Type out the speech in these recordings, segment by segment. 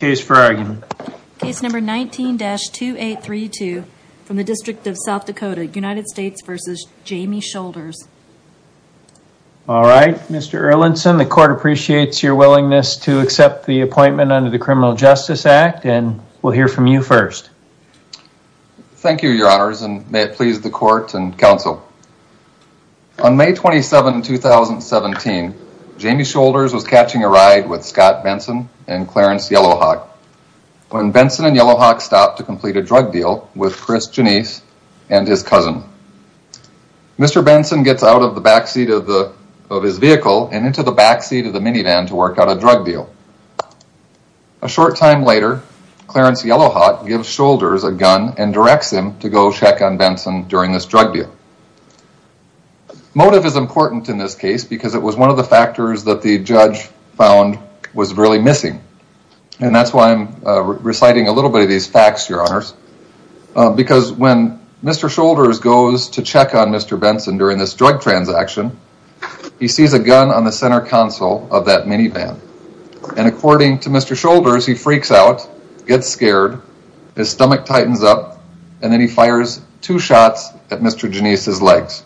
case for argument. Case number 19-2832 from the District of South Dakota, United States v. Jamie Shoulders. Alright, Mr. Erlinson, the court appreciates your willingness to accept the appointment under the Criminal Justice Act, and we'll hear from you first. Thank you, your honors, and may it please the court and counsel. On May 27, 2017, Jamie Shoulders was catching a ride with Scott Benson and Clarence Yellowhawk when Benson and Yellowhawk stopped to complete a drug deal with Chris Jenise and his cousin. Mr. Benson gets out of the backseat of his vehicle and into the backseat of the minivan to work out a drug deal. A short time later, Clarence Yellowhawk gives Shoulders a gun and directs him to go check on Benson during this drug deal. Motive is important in this case because it was one of the factors that the judge found was really missing. And that's why I'm reciting a little bit of these facts, your honors, because when Mr. Shoulders goes to check on Mr. Benson during this drug transaction, he sees a gun on the center console of that minivan. And according to Mr. Shoulders, he freaks out, gets scared, his stomach tightens up, and then he fires two shots at Mr. Jenise's legs.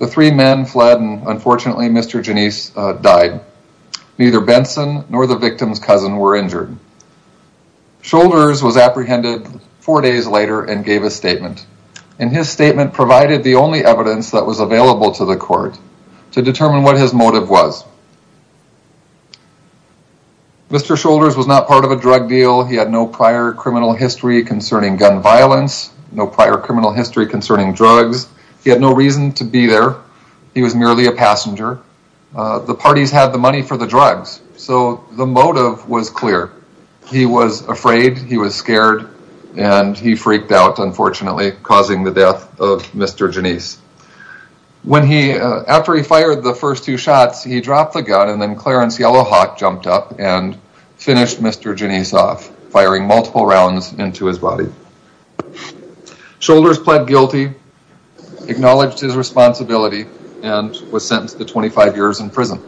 The three men fled and unfortunately Mr. Jenise died. Neither Benson nor the victim's cousin were injured. Shoulders was apprehended four days later and gave a statement. And his statement provided the only evidence that was available to the court to determine what his motive was. Mr. Shoulders was not part of a drug deal. He had no prior criminal history concerning gun violence, no prior criminal history concerning drugs. He had no reason to be there. He was merely a passenger. The parties had the money for the drugs. So the motive was clear. He was afraid, he was scared, and he freaked out, unfortunately, causing the death of Mr. Jenise. After he fired the first two shots, he dropped the gun and then Clarence Yellowhawk jumped up and finished Mr. Jenise off, firing multiple rounds into his body. Shoulders pled guilty, acknowledged his responsibility, and was sentenced to 25 years in prison.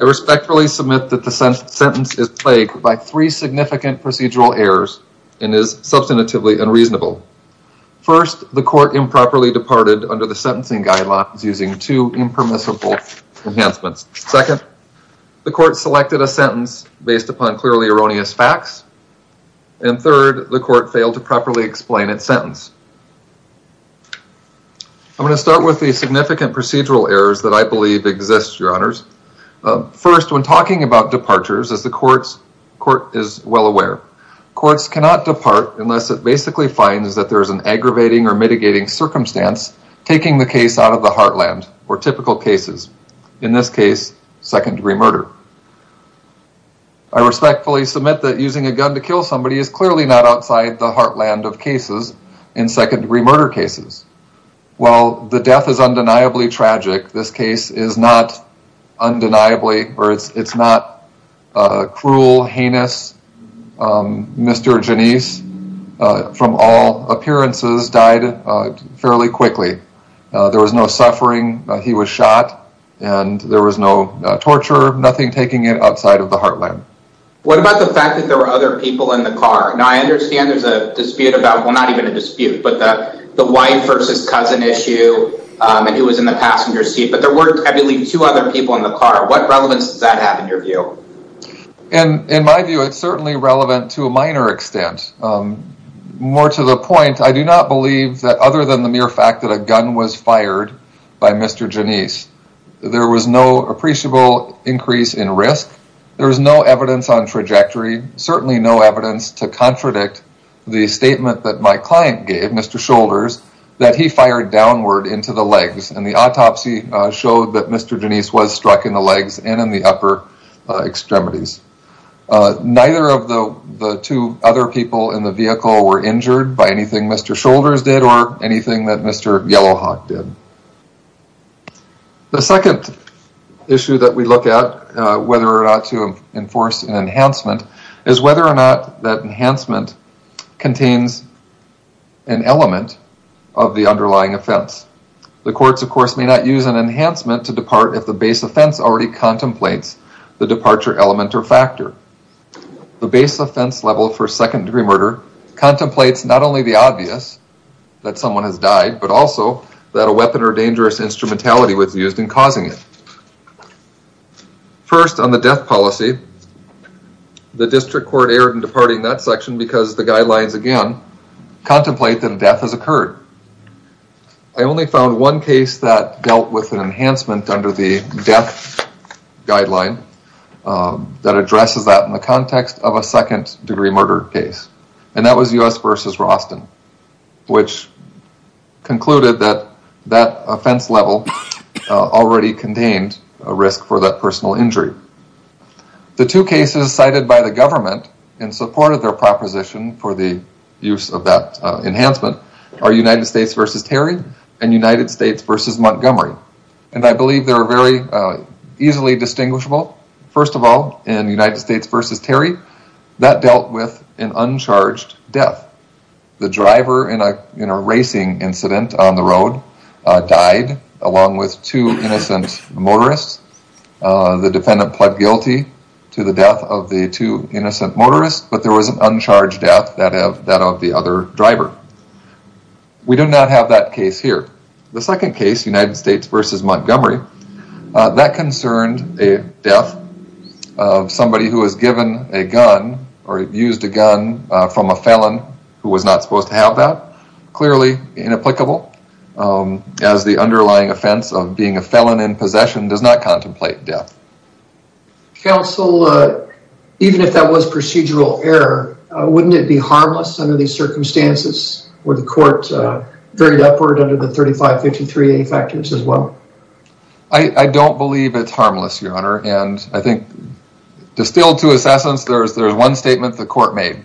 I respectfully submit that the sentence is plagued by three significant procedural errors and is substantively unreasonable. First, the court improperly departed under the sentencing guidelines using two impermissible enhancements. Second, the court selected a sentence based upon clearly erroneous facts. And third, the court failed to properly explain its sentence. I'm going to start with the significant procedural errors that I believe exist, Your Honors. First, when talking about departures, as the court is well aware, courts cannot depart unless it basically finds that there is an aggravating or mitigating circumstance taking the case out of the heartland or typical cases. In this case, second-degree murder. I respectfully submit that using a gun to kill somebody is clearly not outside the heartland of cases in second-degree murder cases. While the death is undeniably tragic, this case is not undeniably or it's not cruel, heinous. Mr. Janisse, from all appearances, died fairly quickly. There was no suffering. He was shot, and there was no torture, nothing taking it outside of the heartland. What about the fact that there were other people in the car? Now, I understand there's a dispute about, well, not even a dispute, but that the wife versus cousin issue, and he was in the passenger seat, but there were, I believe, two other people in the car. What relevance does that have in your view? In my view, it's certainly relevant to a minor extent. More to the point, I do not believe that other than the mere fact that a gun was fired by Mr. Janisse, there was no appreciable increase in risk. There was no evidence on trajectory, certainly no evidence to contradict the statement that my client gave, Mr. Shoulders, that he fired downward into the legs, and the autopsy showed that Mr. Janisse was struck in the legs and in the upper extremities. Neither of the two other people in the vehicle were injured by anything Mr. Shoulders did or anything that Mr. Yellowhawk did. The second issue that we look at, whether or not to enforce an enhancement, is whether or not that enhancement contains an element of the underlying offense. The courts, of course, may not use an enhancement to depart if the base offense already contemplates the departure element or factor. The base offense level for second-degree murder contemplates not only the obvious, that someone has died, but also that a weapon or dangerous instrumentality was used in causing it. First, on the death policy, the district court erred in departing that section because the dealt with an enhancement under the death guideline that addresses that in the context of a second-degree murder case, and that was U.S. v. Roston, which concluded that that offense level already contained a risk for that personal injury. The two cases cited by the government in support of their proposition for the use of that enhancement are United States v. Montgomery, and I believe they're very easily distinguishable. First of all, in United States v. Terry, that dealt with an uncharged death. The driver in a racing incident on the road died along with two innocent motorists. The defendant pled guilty to the death of the two innocent motorists, but there was an uncharged death that of the other driver. We do not have that case here. The second case, United States v. Montgomery, that concerned a death of somebody who was given a gun or used a gun from a felon who was not supposed to have that. Clearly inapplicable, as the underlying offense of being a felon in possession does not contemplate death. Counsel, even if that was procedural error, wouldn't it be harmless under these circumstances where the court varied upward under the 3553A factors as well? I don't believe it's harmless, Your Honor, and I think distilled to his essence, there's one statement the court made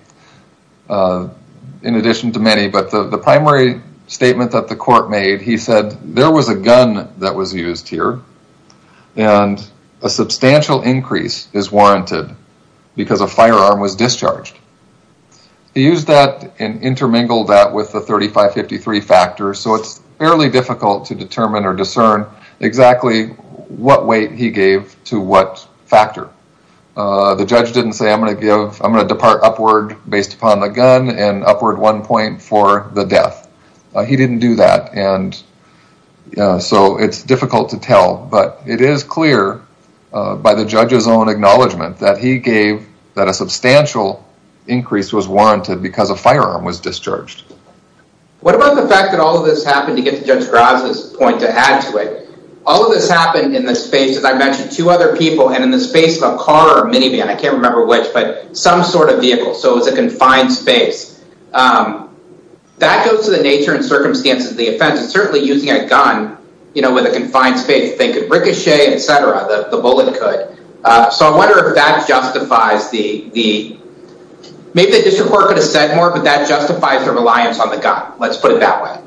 in addition to many, but the primary statement that the court made, he said, there was a gun that was used here, and a substantial increase is warranted because a firearm was discharged. He used that and intermingled that with the 3553 factor, so it's fairly difficult to determine or discern exactly what weight he gave to what factor. The judge didn't say, I'm going to depart upward based upon the gun and upward one point for the death. He didn't do that, and so it's difficult to tell it is clear by the judge's own acknowledgment that he gave that a substantial increase was warranted because a firearm was discharged. What about the fact that all of this happened, to get to Judge Graza's point to add to it, all of this happened in the space, as I mentioned, two other people and in the space of a car or minivan, I can't remember which, but some sort of vehicle, so it was a confined space. That goes to the nature and circumstances of the offense, and certainly using a gun with a confined space, they could ricochet, etc., the bullet could, so I wonder if that justifies the, maybe the district court could have said more, but that justifies their reliance on the gun, let's put it that way.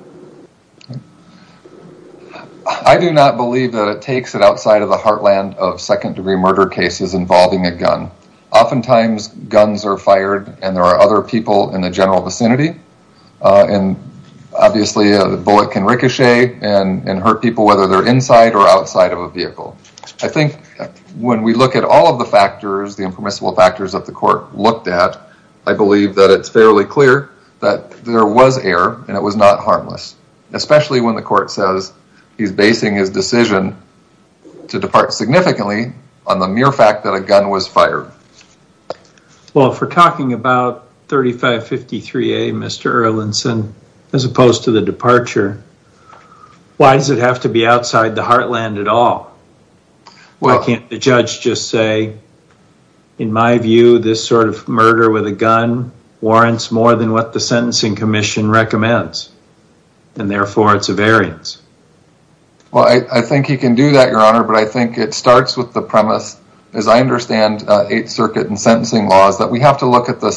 I do not believe that it takes it outside of the heartland of second degree murder cases involving a gun. Oftentimes, guns are fired and there are other people in the general vicinity, and obviously the bullet can ricochet and hurt people whether they're inside or outside of a vehicle. I think when we look at all of the factors, the impermissible factors that the court looked at, I believe that it's fairly clear that there was error and it was not harmless, especially when the court says he's basing his decision to depart significantly on the Erlinson, as opposed to the departure. Why does it have to be outside the heartland at all? Why can't the judge just say, in my view, this sort of murder with a gun warrants more than what the sentencing commission recommends, and therefore it's a variance. Well, I think he can do that, your honor, but I think it starts with the premise, as I understand 8th Circuit and application of the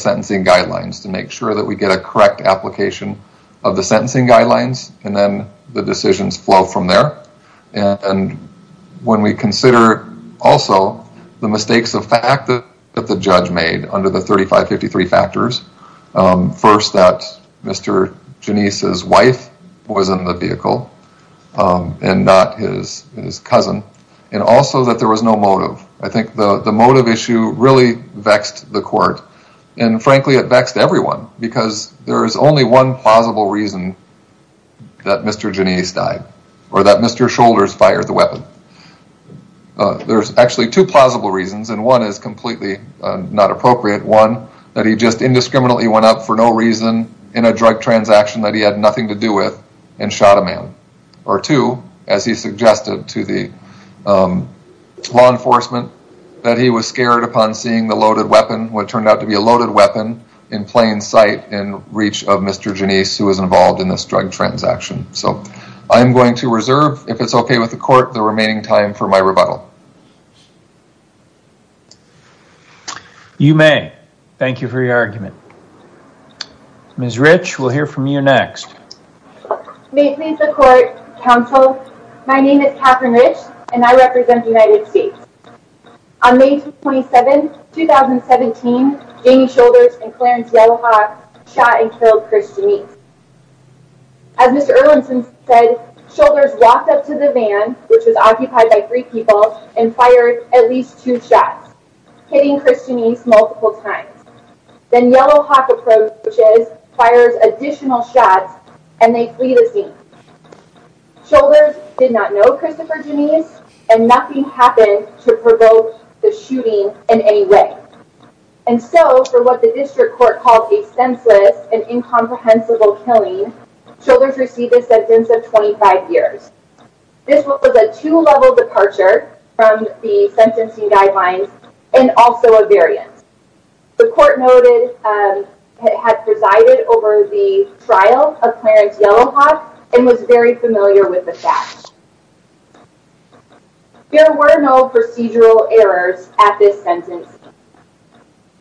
sentencing guidelines, and then the decisions flow from there. When we consider also the mistakes of fact that the judge made under the 3553 factors, first that Mr. Janisse's wife was in the vehicle and not his cousin, and also that there was no motive. I think the motive issue really vexed the court, and frankly, it vexed everyone because there is only one plausible reason that Mr. Janisse died, or that Mr. Shoulders fired the weapon. There's actually two plausible reasons, and one is completely not appropriate. One, that he just indiscriminately went out for no reason in a drug transaction that he had nothing to do with and shot a man. Or two, as he suggested to the law enforcement, that he was scared upon seeing the loaded weapon, what turned out to be a loaded weapon in plain sight in reach of Mr. Janisse, who was involved in this drug transaction. So I'm going to reserve, if it's okay with the court, the remaining time for my rebuttal. You may. Thank you for your argument. Ms. Rich, we'll hear from you next. May it please the court, counsel, my name is Katherine Rich, and I represent the United States. On May 27, 2017, Jamie Shoulders and Clarence Yellowhawk shot and killed Chris Janisse. As Mr. Erlinson said, Shoulders walked up to the van, which was occupied by three people, and fired at least two shots, hitting Chris Janisse multiple times. Then Yellowhawk approaches, fires additional shots, and they flee the scene. Shoulders did not know Christopher Janisse, and nothing happened to provoke the shooting in any way. And so, for what the district court called a senseless and incomprehensible killing, Shoulders received a sentence of 25 years. This was a two-level departure from the sentencing guidelines and also a variance. The court noted it had presided over the trial of Clarence Yellowhawk and was very familiar with the fact. There were no procedural errors at this sentence.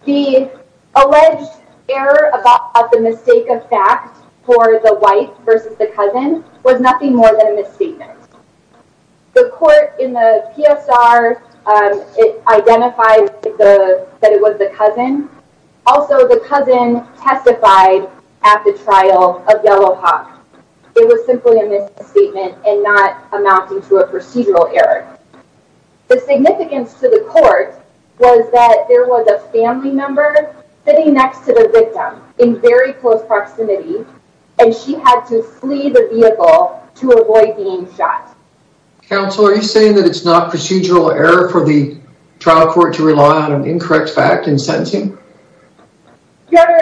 The alleged error of the mistake of fact for the wife versus the cousin was nothing more than a misstatement. The court in the PSR identified that it was the cousin. Also, the cousin testified at the trial of Yellowhawk. It was simply a misstatement and not amounting to a procedural error. The significance to the court was that there was a family member sitting next to the victim in very close proximity, and she had to flee the vehicle to avoid being shot. Counsel, are you saying that it's not procedural error for the victim to flee the vehicle to avoid being shot? No, it's not procedural error. Okay. Okay. Okay. Okay. Okay. Okay. Okay. Okay.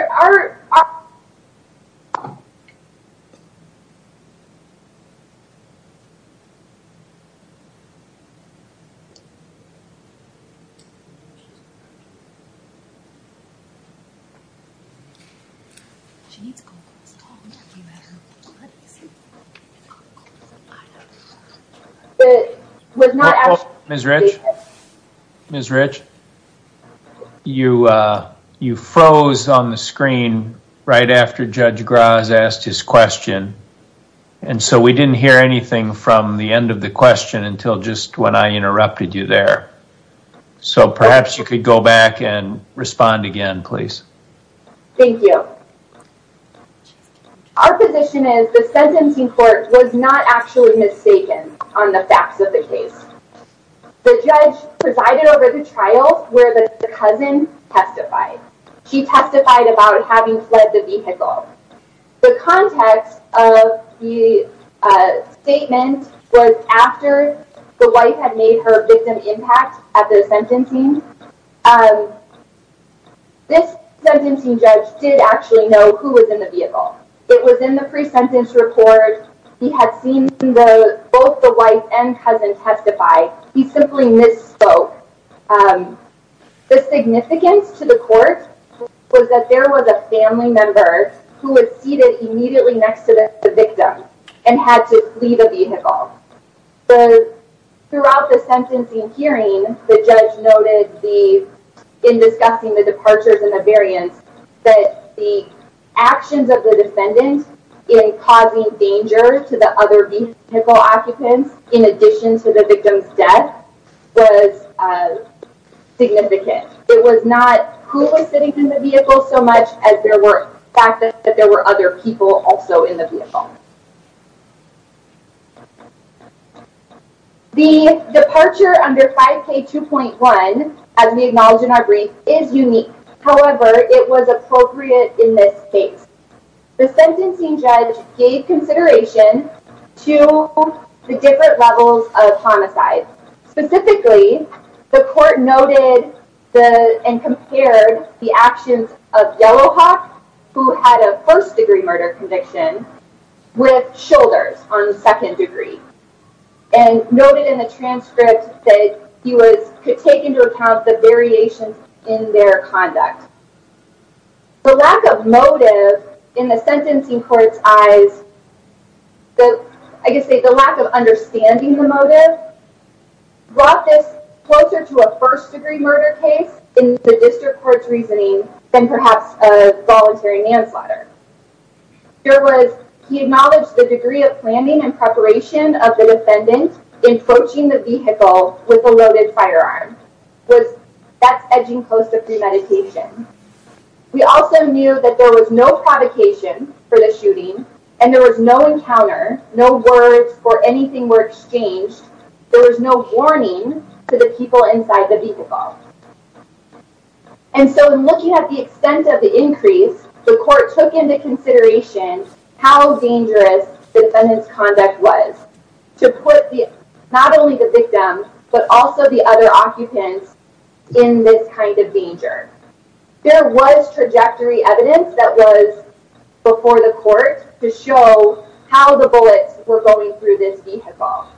Okay. Okay. Okay. You froze on the screen right after Judge Graz asked his question, and so we didn't hear anything from the end of the question until just when I interrupted you there. So perhaps you could go back and respond again, please? Thank you. Our position is the sentencing court was not actually mistaken on the facts of the case. The judge presided over the trial where the cousin testified. She testified about having fled the vehicle. The context of the statement was after the wife had made her victim impact at the sentencing. This sentencing judge did actually know who was in the vehicle. It was in the pre-sentence report. He had seen both the wife and cousin testify. He simply misspoke. The significance to the court was that there was a family member who was seated immediately next to the victim and had to flee the vehicle. Throughout the sentencing hearing, the judge noted in discussing the departures and the actions of the defendant in causing danger to the other vehicle occupants in addition to the victim's death was significant. It was not who was sitting in the vehicle so much as the fact that there were other people also in the vehicle. The departure under 5K2.1, as we acknowledge in our brief, is unique. However, it was appropriate in this case. The sentencing judge gave consideration to the different levels of homicide. Specifically, the court noted and compared the actions of Yellowhawk who had a first degree murder conviction with Shoulders on second degree and noted in the transcript that he could take into account the variations in their conduct. The lack of motive in the sentencing court's eyes, I guess the lack of understanding the motive brought this closer to a first degree murder case in the district court's reasoning than perhaps a voluntary manslaughter. He acknowledged the degree of planning and preparation of the defendant in approaching the vehicle with a loaded firearm. That's edging close to premeditation. We also knew that there was no provocation for the shooting and there was no encounter, no words or anything were exchanged. There was no warning to the people inside the vehicle. So in looking at the extent of the increase, the court took into consideration how dangerous the defendant's conduct was to put not only the victim but also the other occupants in this kind of danger. There was trajectory evidence that was before the court to show how the bullets were going through this vehicle.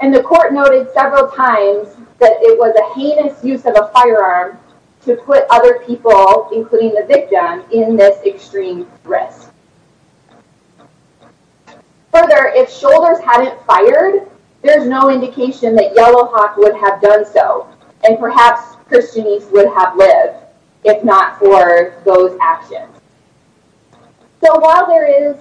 And the court noted several times that it was a heinous use of a firearm to put other people, including the victim, in this extreme risk. Further, if shoulders hadn't fired, there's no indication that Yellowhawk would have done so and perhaps Christianese would have lived if not for those actions. So while it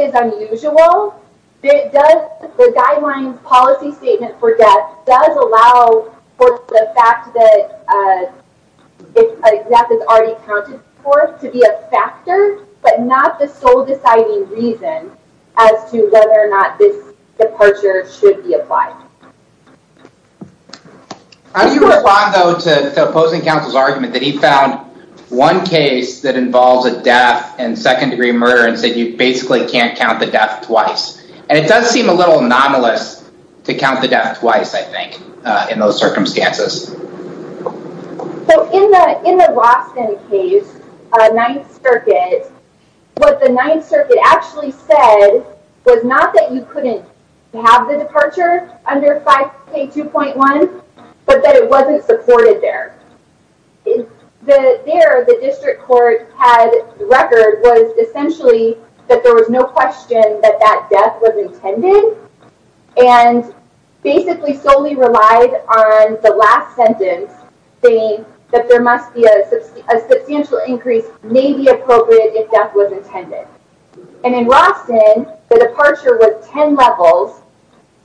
is unusual, the guidelines policy statement for death does allow for the fact that death is already accounted for to be a factor, but not the sole deciding reason as to whether or not this departure should be applied. How do you respond, though, to opposing counsel's argument that he found one case that involves a death and second-degree murder and said you basically can't count the death twice? And it does seem a little anomalous to count the death twice, I think, in those circumstances. So in the Rosten case, Ninth Circuit, what the Ninth Circuit actually said was not that you couldn't have the departure under 5K2.1, but that it wasn't supported there. There, the district court had the record was essentially that there was no question that death was intended and basically solely relied on the last sentence saying that there must be a substantial increase may be appropriate if death was intended. And in Rosten, the departure was 10 levels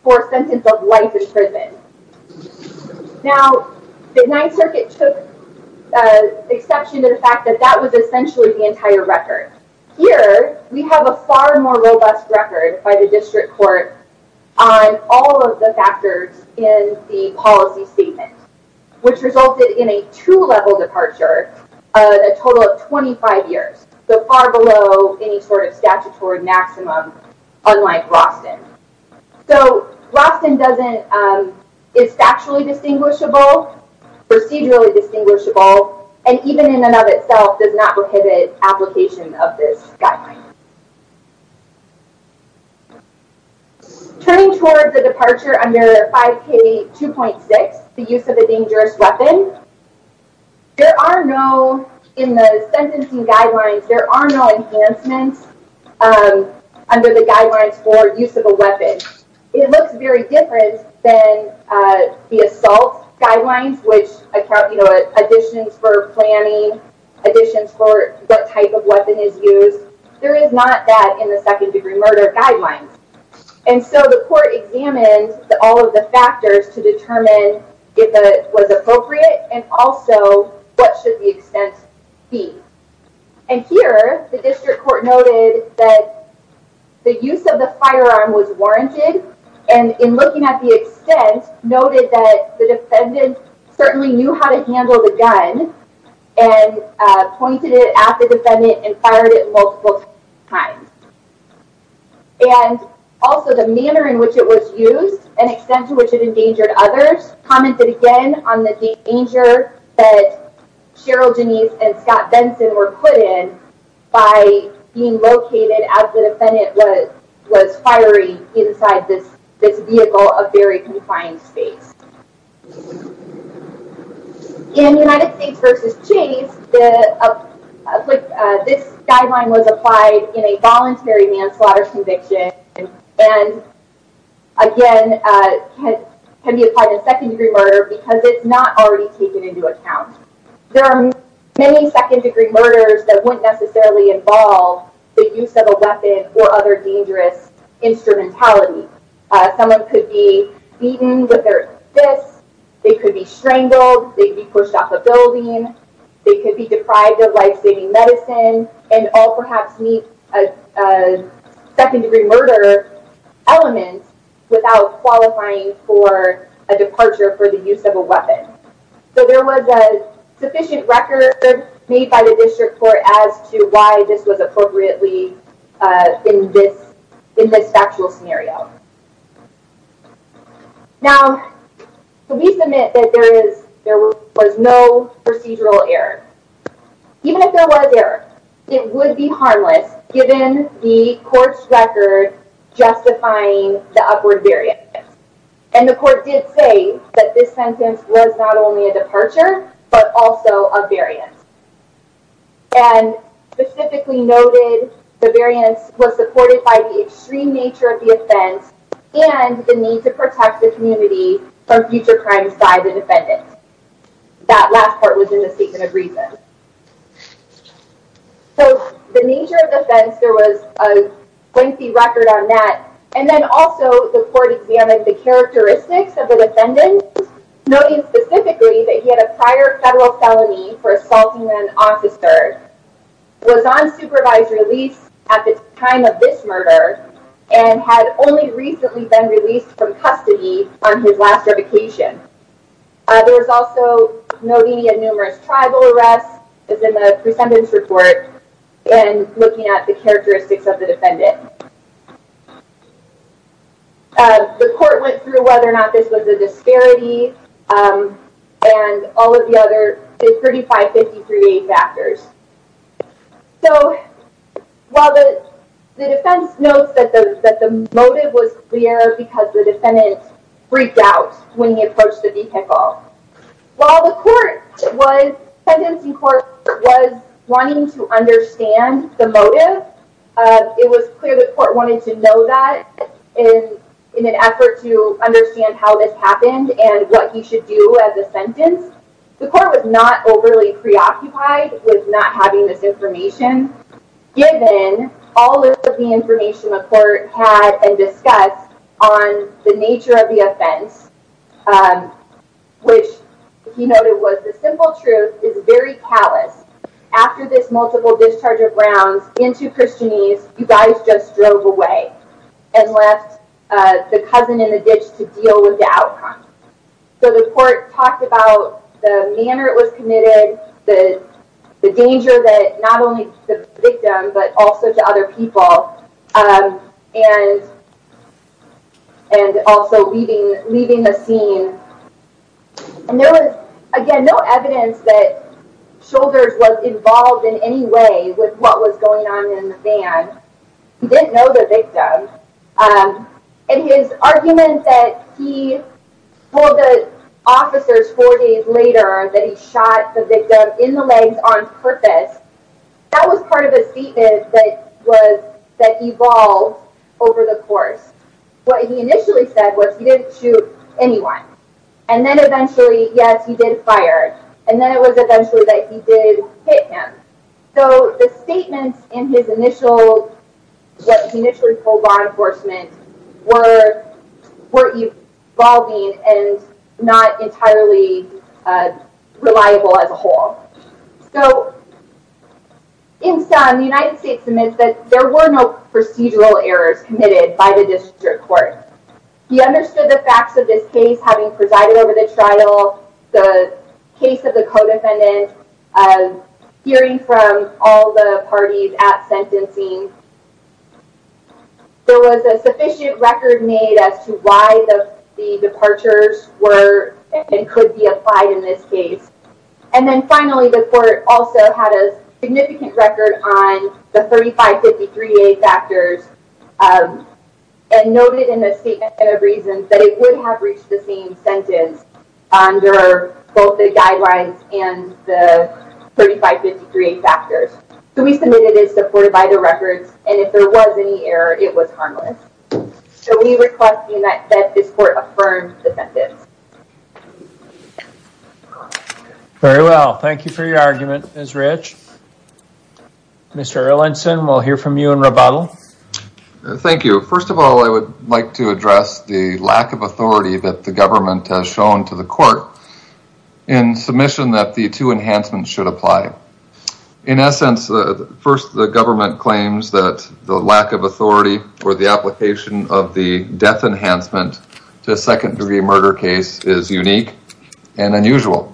for a sentence of life in prison. Now, the Ninth Circuit took exception to the fact that that was essentially the entire record. Here, we have a far more robust record by the district court on all of the factors in the policy statement, which resulted in a two-level departure, a total of 25 years, so far below any sort of statutory maximum, unlike Rosten. So Rosten is factually distinguishable, procedurally distinguishable, and even in and of itself does not prohibit application of this guideline. Turning toward the departure under 5K2.6, the use of a dangerous weapon, there are no, in the sentencing guidelines, there are no enhancements under the guidelines for use of a weapon. It looks very different than the assault guidelines, which account, you know, additions for planning, additions for what type of weapon is used. There is not that in the second degree murder guidelines. And so the court examined all of the factors to determine if it was appropriate and also what should the extent be. And here, the district court noted that the use of the firearm was warranted and in looking at the extent, noted that the defendant certainly knew how to handle the gun and pointed it at the defendant and fired it multiple times. And also the manner in which it was used and extent to which it endangered others, commented again on the danger that Cheryl Denise and Scott Benson were put in by being located as the defendant was firing inside this vehicle, a very confined space. In United States v. Chase, this guideline was applied in a voluntary manslaughter conviction and again, can be applied in second degree murder because it's not already taken into account. There are many second degree murders that wouldn't necessarily involve the use of a weapon or other dangerous instrumentality. Someone could be beaten with their fists, they could be strangled, they could be pushed off a building, they could be deprived of life-saving medicine and all perhaps meet a second degree murder element without qualifying for a departure for the use of a sufficient record made by the district court as to why this was appropriately in this factual scenario. Now, we submit that there was no procedural error. Even if there was error, it would be harmless given the court's record justifying the upward variance. And the court did say that this sentence was not only a departure but also a variance. And specifically noted the variance was supported by the extreme nature of the offense and the need to protect the community from future crimes by the defendant. That last part was in the statement of reason. So the nature of the offense, there was a lengthy record on that and then also the court examined the characteristics of the defendant noting specifically that he had a prior federal felony for assaulting an officer, was on supervised release at the time of this murder, and had only recently been released from custody on his last revocation. There was also noting a numerous tribal arrests as in the presentence report and looking at the characteristics of the defendant. The court went through whether or not this was a disparity and all of the other 35-53-8 factors. So while the defense notes that the motive was clear because the defendant freaked out when he approached the vehicle, while the court was, the sentencing court was wanting to understand the court wanted to know that in an effort to understand how this happened and what he should do as a sentence, the court was not overly preoccupied with not having this information given all of the information the court had and discussed on the nature of the offense, which he noted was the simple truth is very callous. After this multiple discharge of rounds into Christianese, you guys just drove away and left the cousin in the ditch to deal with the outcome. So the court talked about the manner it was committed, the danger that not only to the victim but also to other people and also leaving the scene. And there was again no evidence that what was going on in the van. He didn't know the victim. And his argument that he told the officers four days later that he shot the victim in the legs on purpose, that was part of his statement that evolved over the course. What he initially said was he didn't shoot anyone. And then eventually, yes, he did fire. And then it was eventually that he did hit him. So the statements in his initial, what he initially told law enforcement were evolving and not entirely reliable as a whole. So in sum, the United States admits that there were no procedural errors committed by the district court. He understood the facts of this case having presided over the trial, the case of the co-defendant, hearing from all the parties at sentencing. There was a sufficient record made as to why the departures were and could be applied in this case. And then finally, the court also had a significant record on the 3553A factors and noted in the statement of reasons that it would have reached the same sentence under both the guidelines and the 3553A factors. So we submitted it as supported by the records and if there was any error, it was harmless. So we request that this court affirm the sentence. Very well. Thank you for your argument, Ms. Rich. Mr. Erlandson, we'll hear from you in rebuttal. Thank you. First of all, I would like to address the lack of authority that the government has shown to the court in submission that the two enhancements should apply. In essence, first, the government claims that the lack of authority or the application of the death enhancement to a second degree murder case is unique and unusual.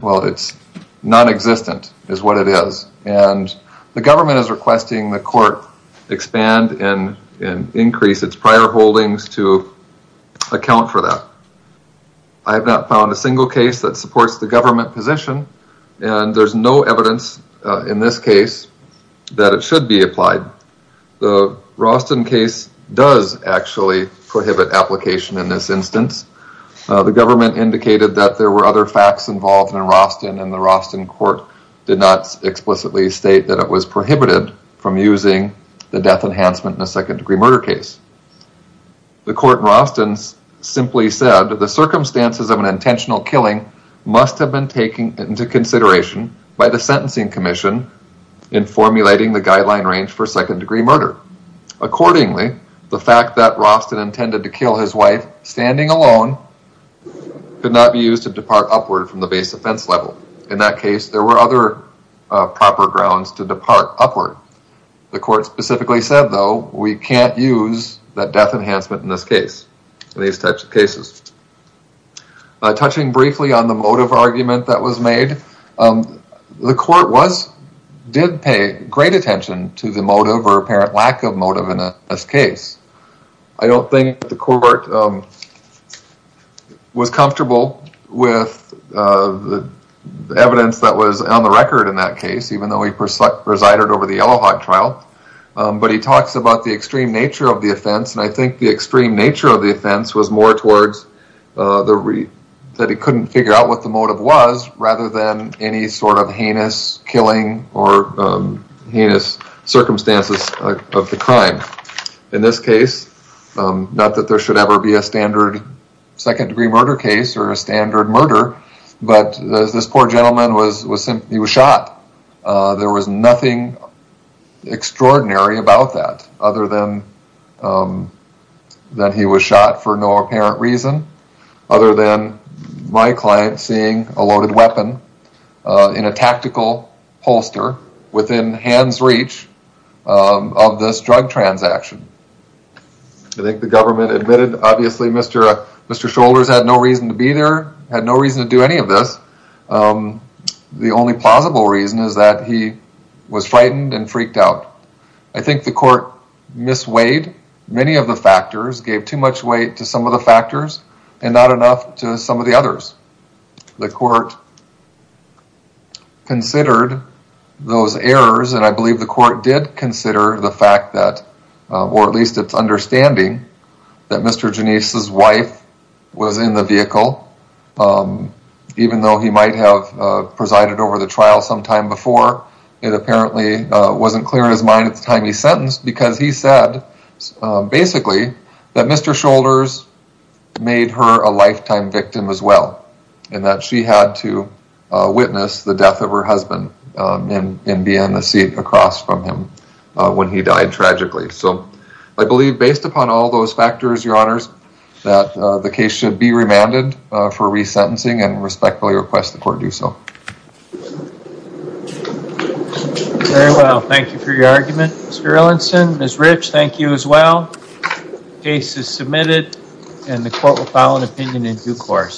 Well, it's non-existent is what it is. And the government is requesting the court expand and increase its prior holdings to account for that. I have not found a single case that supports the government position and there's no evidence in this case that it should be applied. The Roston case does actually prohibit application in this instance. The government indicated that there were other did not explicitly state that it was prohibited from using the death enhancement in a second degree murder case. The court in Roston simply said that the circumstances of an intentional killing must have been taken into consideration by the sentencing commission in formulating the guideline range for second degree murder. Accordingly, the fact that Roston intended to kill his wife standing alone could not be used to depart upward from the base offense level. In that case, there were other proper grounds to depart upward. The court specifically said, though, we can't use that death enhancement in this case in these types of cases. Touching briefly on the motive argument that was made, the court did pay great attention to the motive or apparent lack of motive in this case. I don't think the court was comfortable with the evidence that was on the record in that case, even though he presided over the Yellowhawk trial, but he talks about the extreme nature of the offense and I think the extreme nature of the offense was more towards that he couldn't figure out what the motive was rather than any sort of heinous killing or heinous circumstances of the crime. In this case, not that there should ever be a standard second degree murder case or a standard murder, but this poor gentleman was shot. There was nothing extraordinary about that other than that he was shot for no apparent reason other than my client seeing a loaded weapon in a tactical holster within hand's reach of this drug transaction. I think the government admitted, obviously, Mr. Shoulders had no reason to be there, had no reason to do any of this. The only plausible reason is that he was frightened and freaked out. I think the court misweighed many of the factors, gave too much weight to some of the factors and not enough to some of the others. The court considered those errors and I believe the court did consider the fact that, or at least its understanding, that Mr. Genesee's wife was in the vehicle. Even though he might have presided over the trial sometime before, it apparently wasn't clear in his mind at the time he sentenced because he said basically that Mr. Shoulders made her a lifetime witness the death of her husband and be in the seat across from him when he died tragically. So I believe based upon all those factors, your honors, that the case should be remanded for resentencing and respectfully request the court do so. Very well, thank you for your argument. Mr. Ellenson, Ms. Rich, thank you as well. Case is submitted and the court will file an opinion in due course.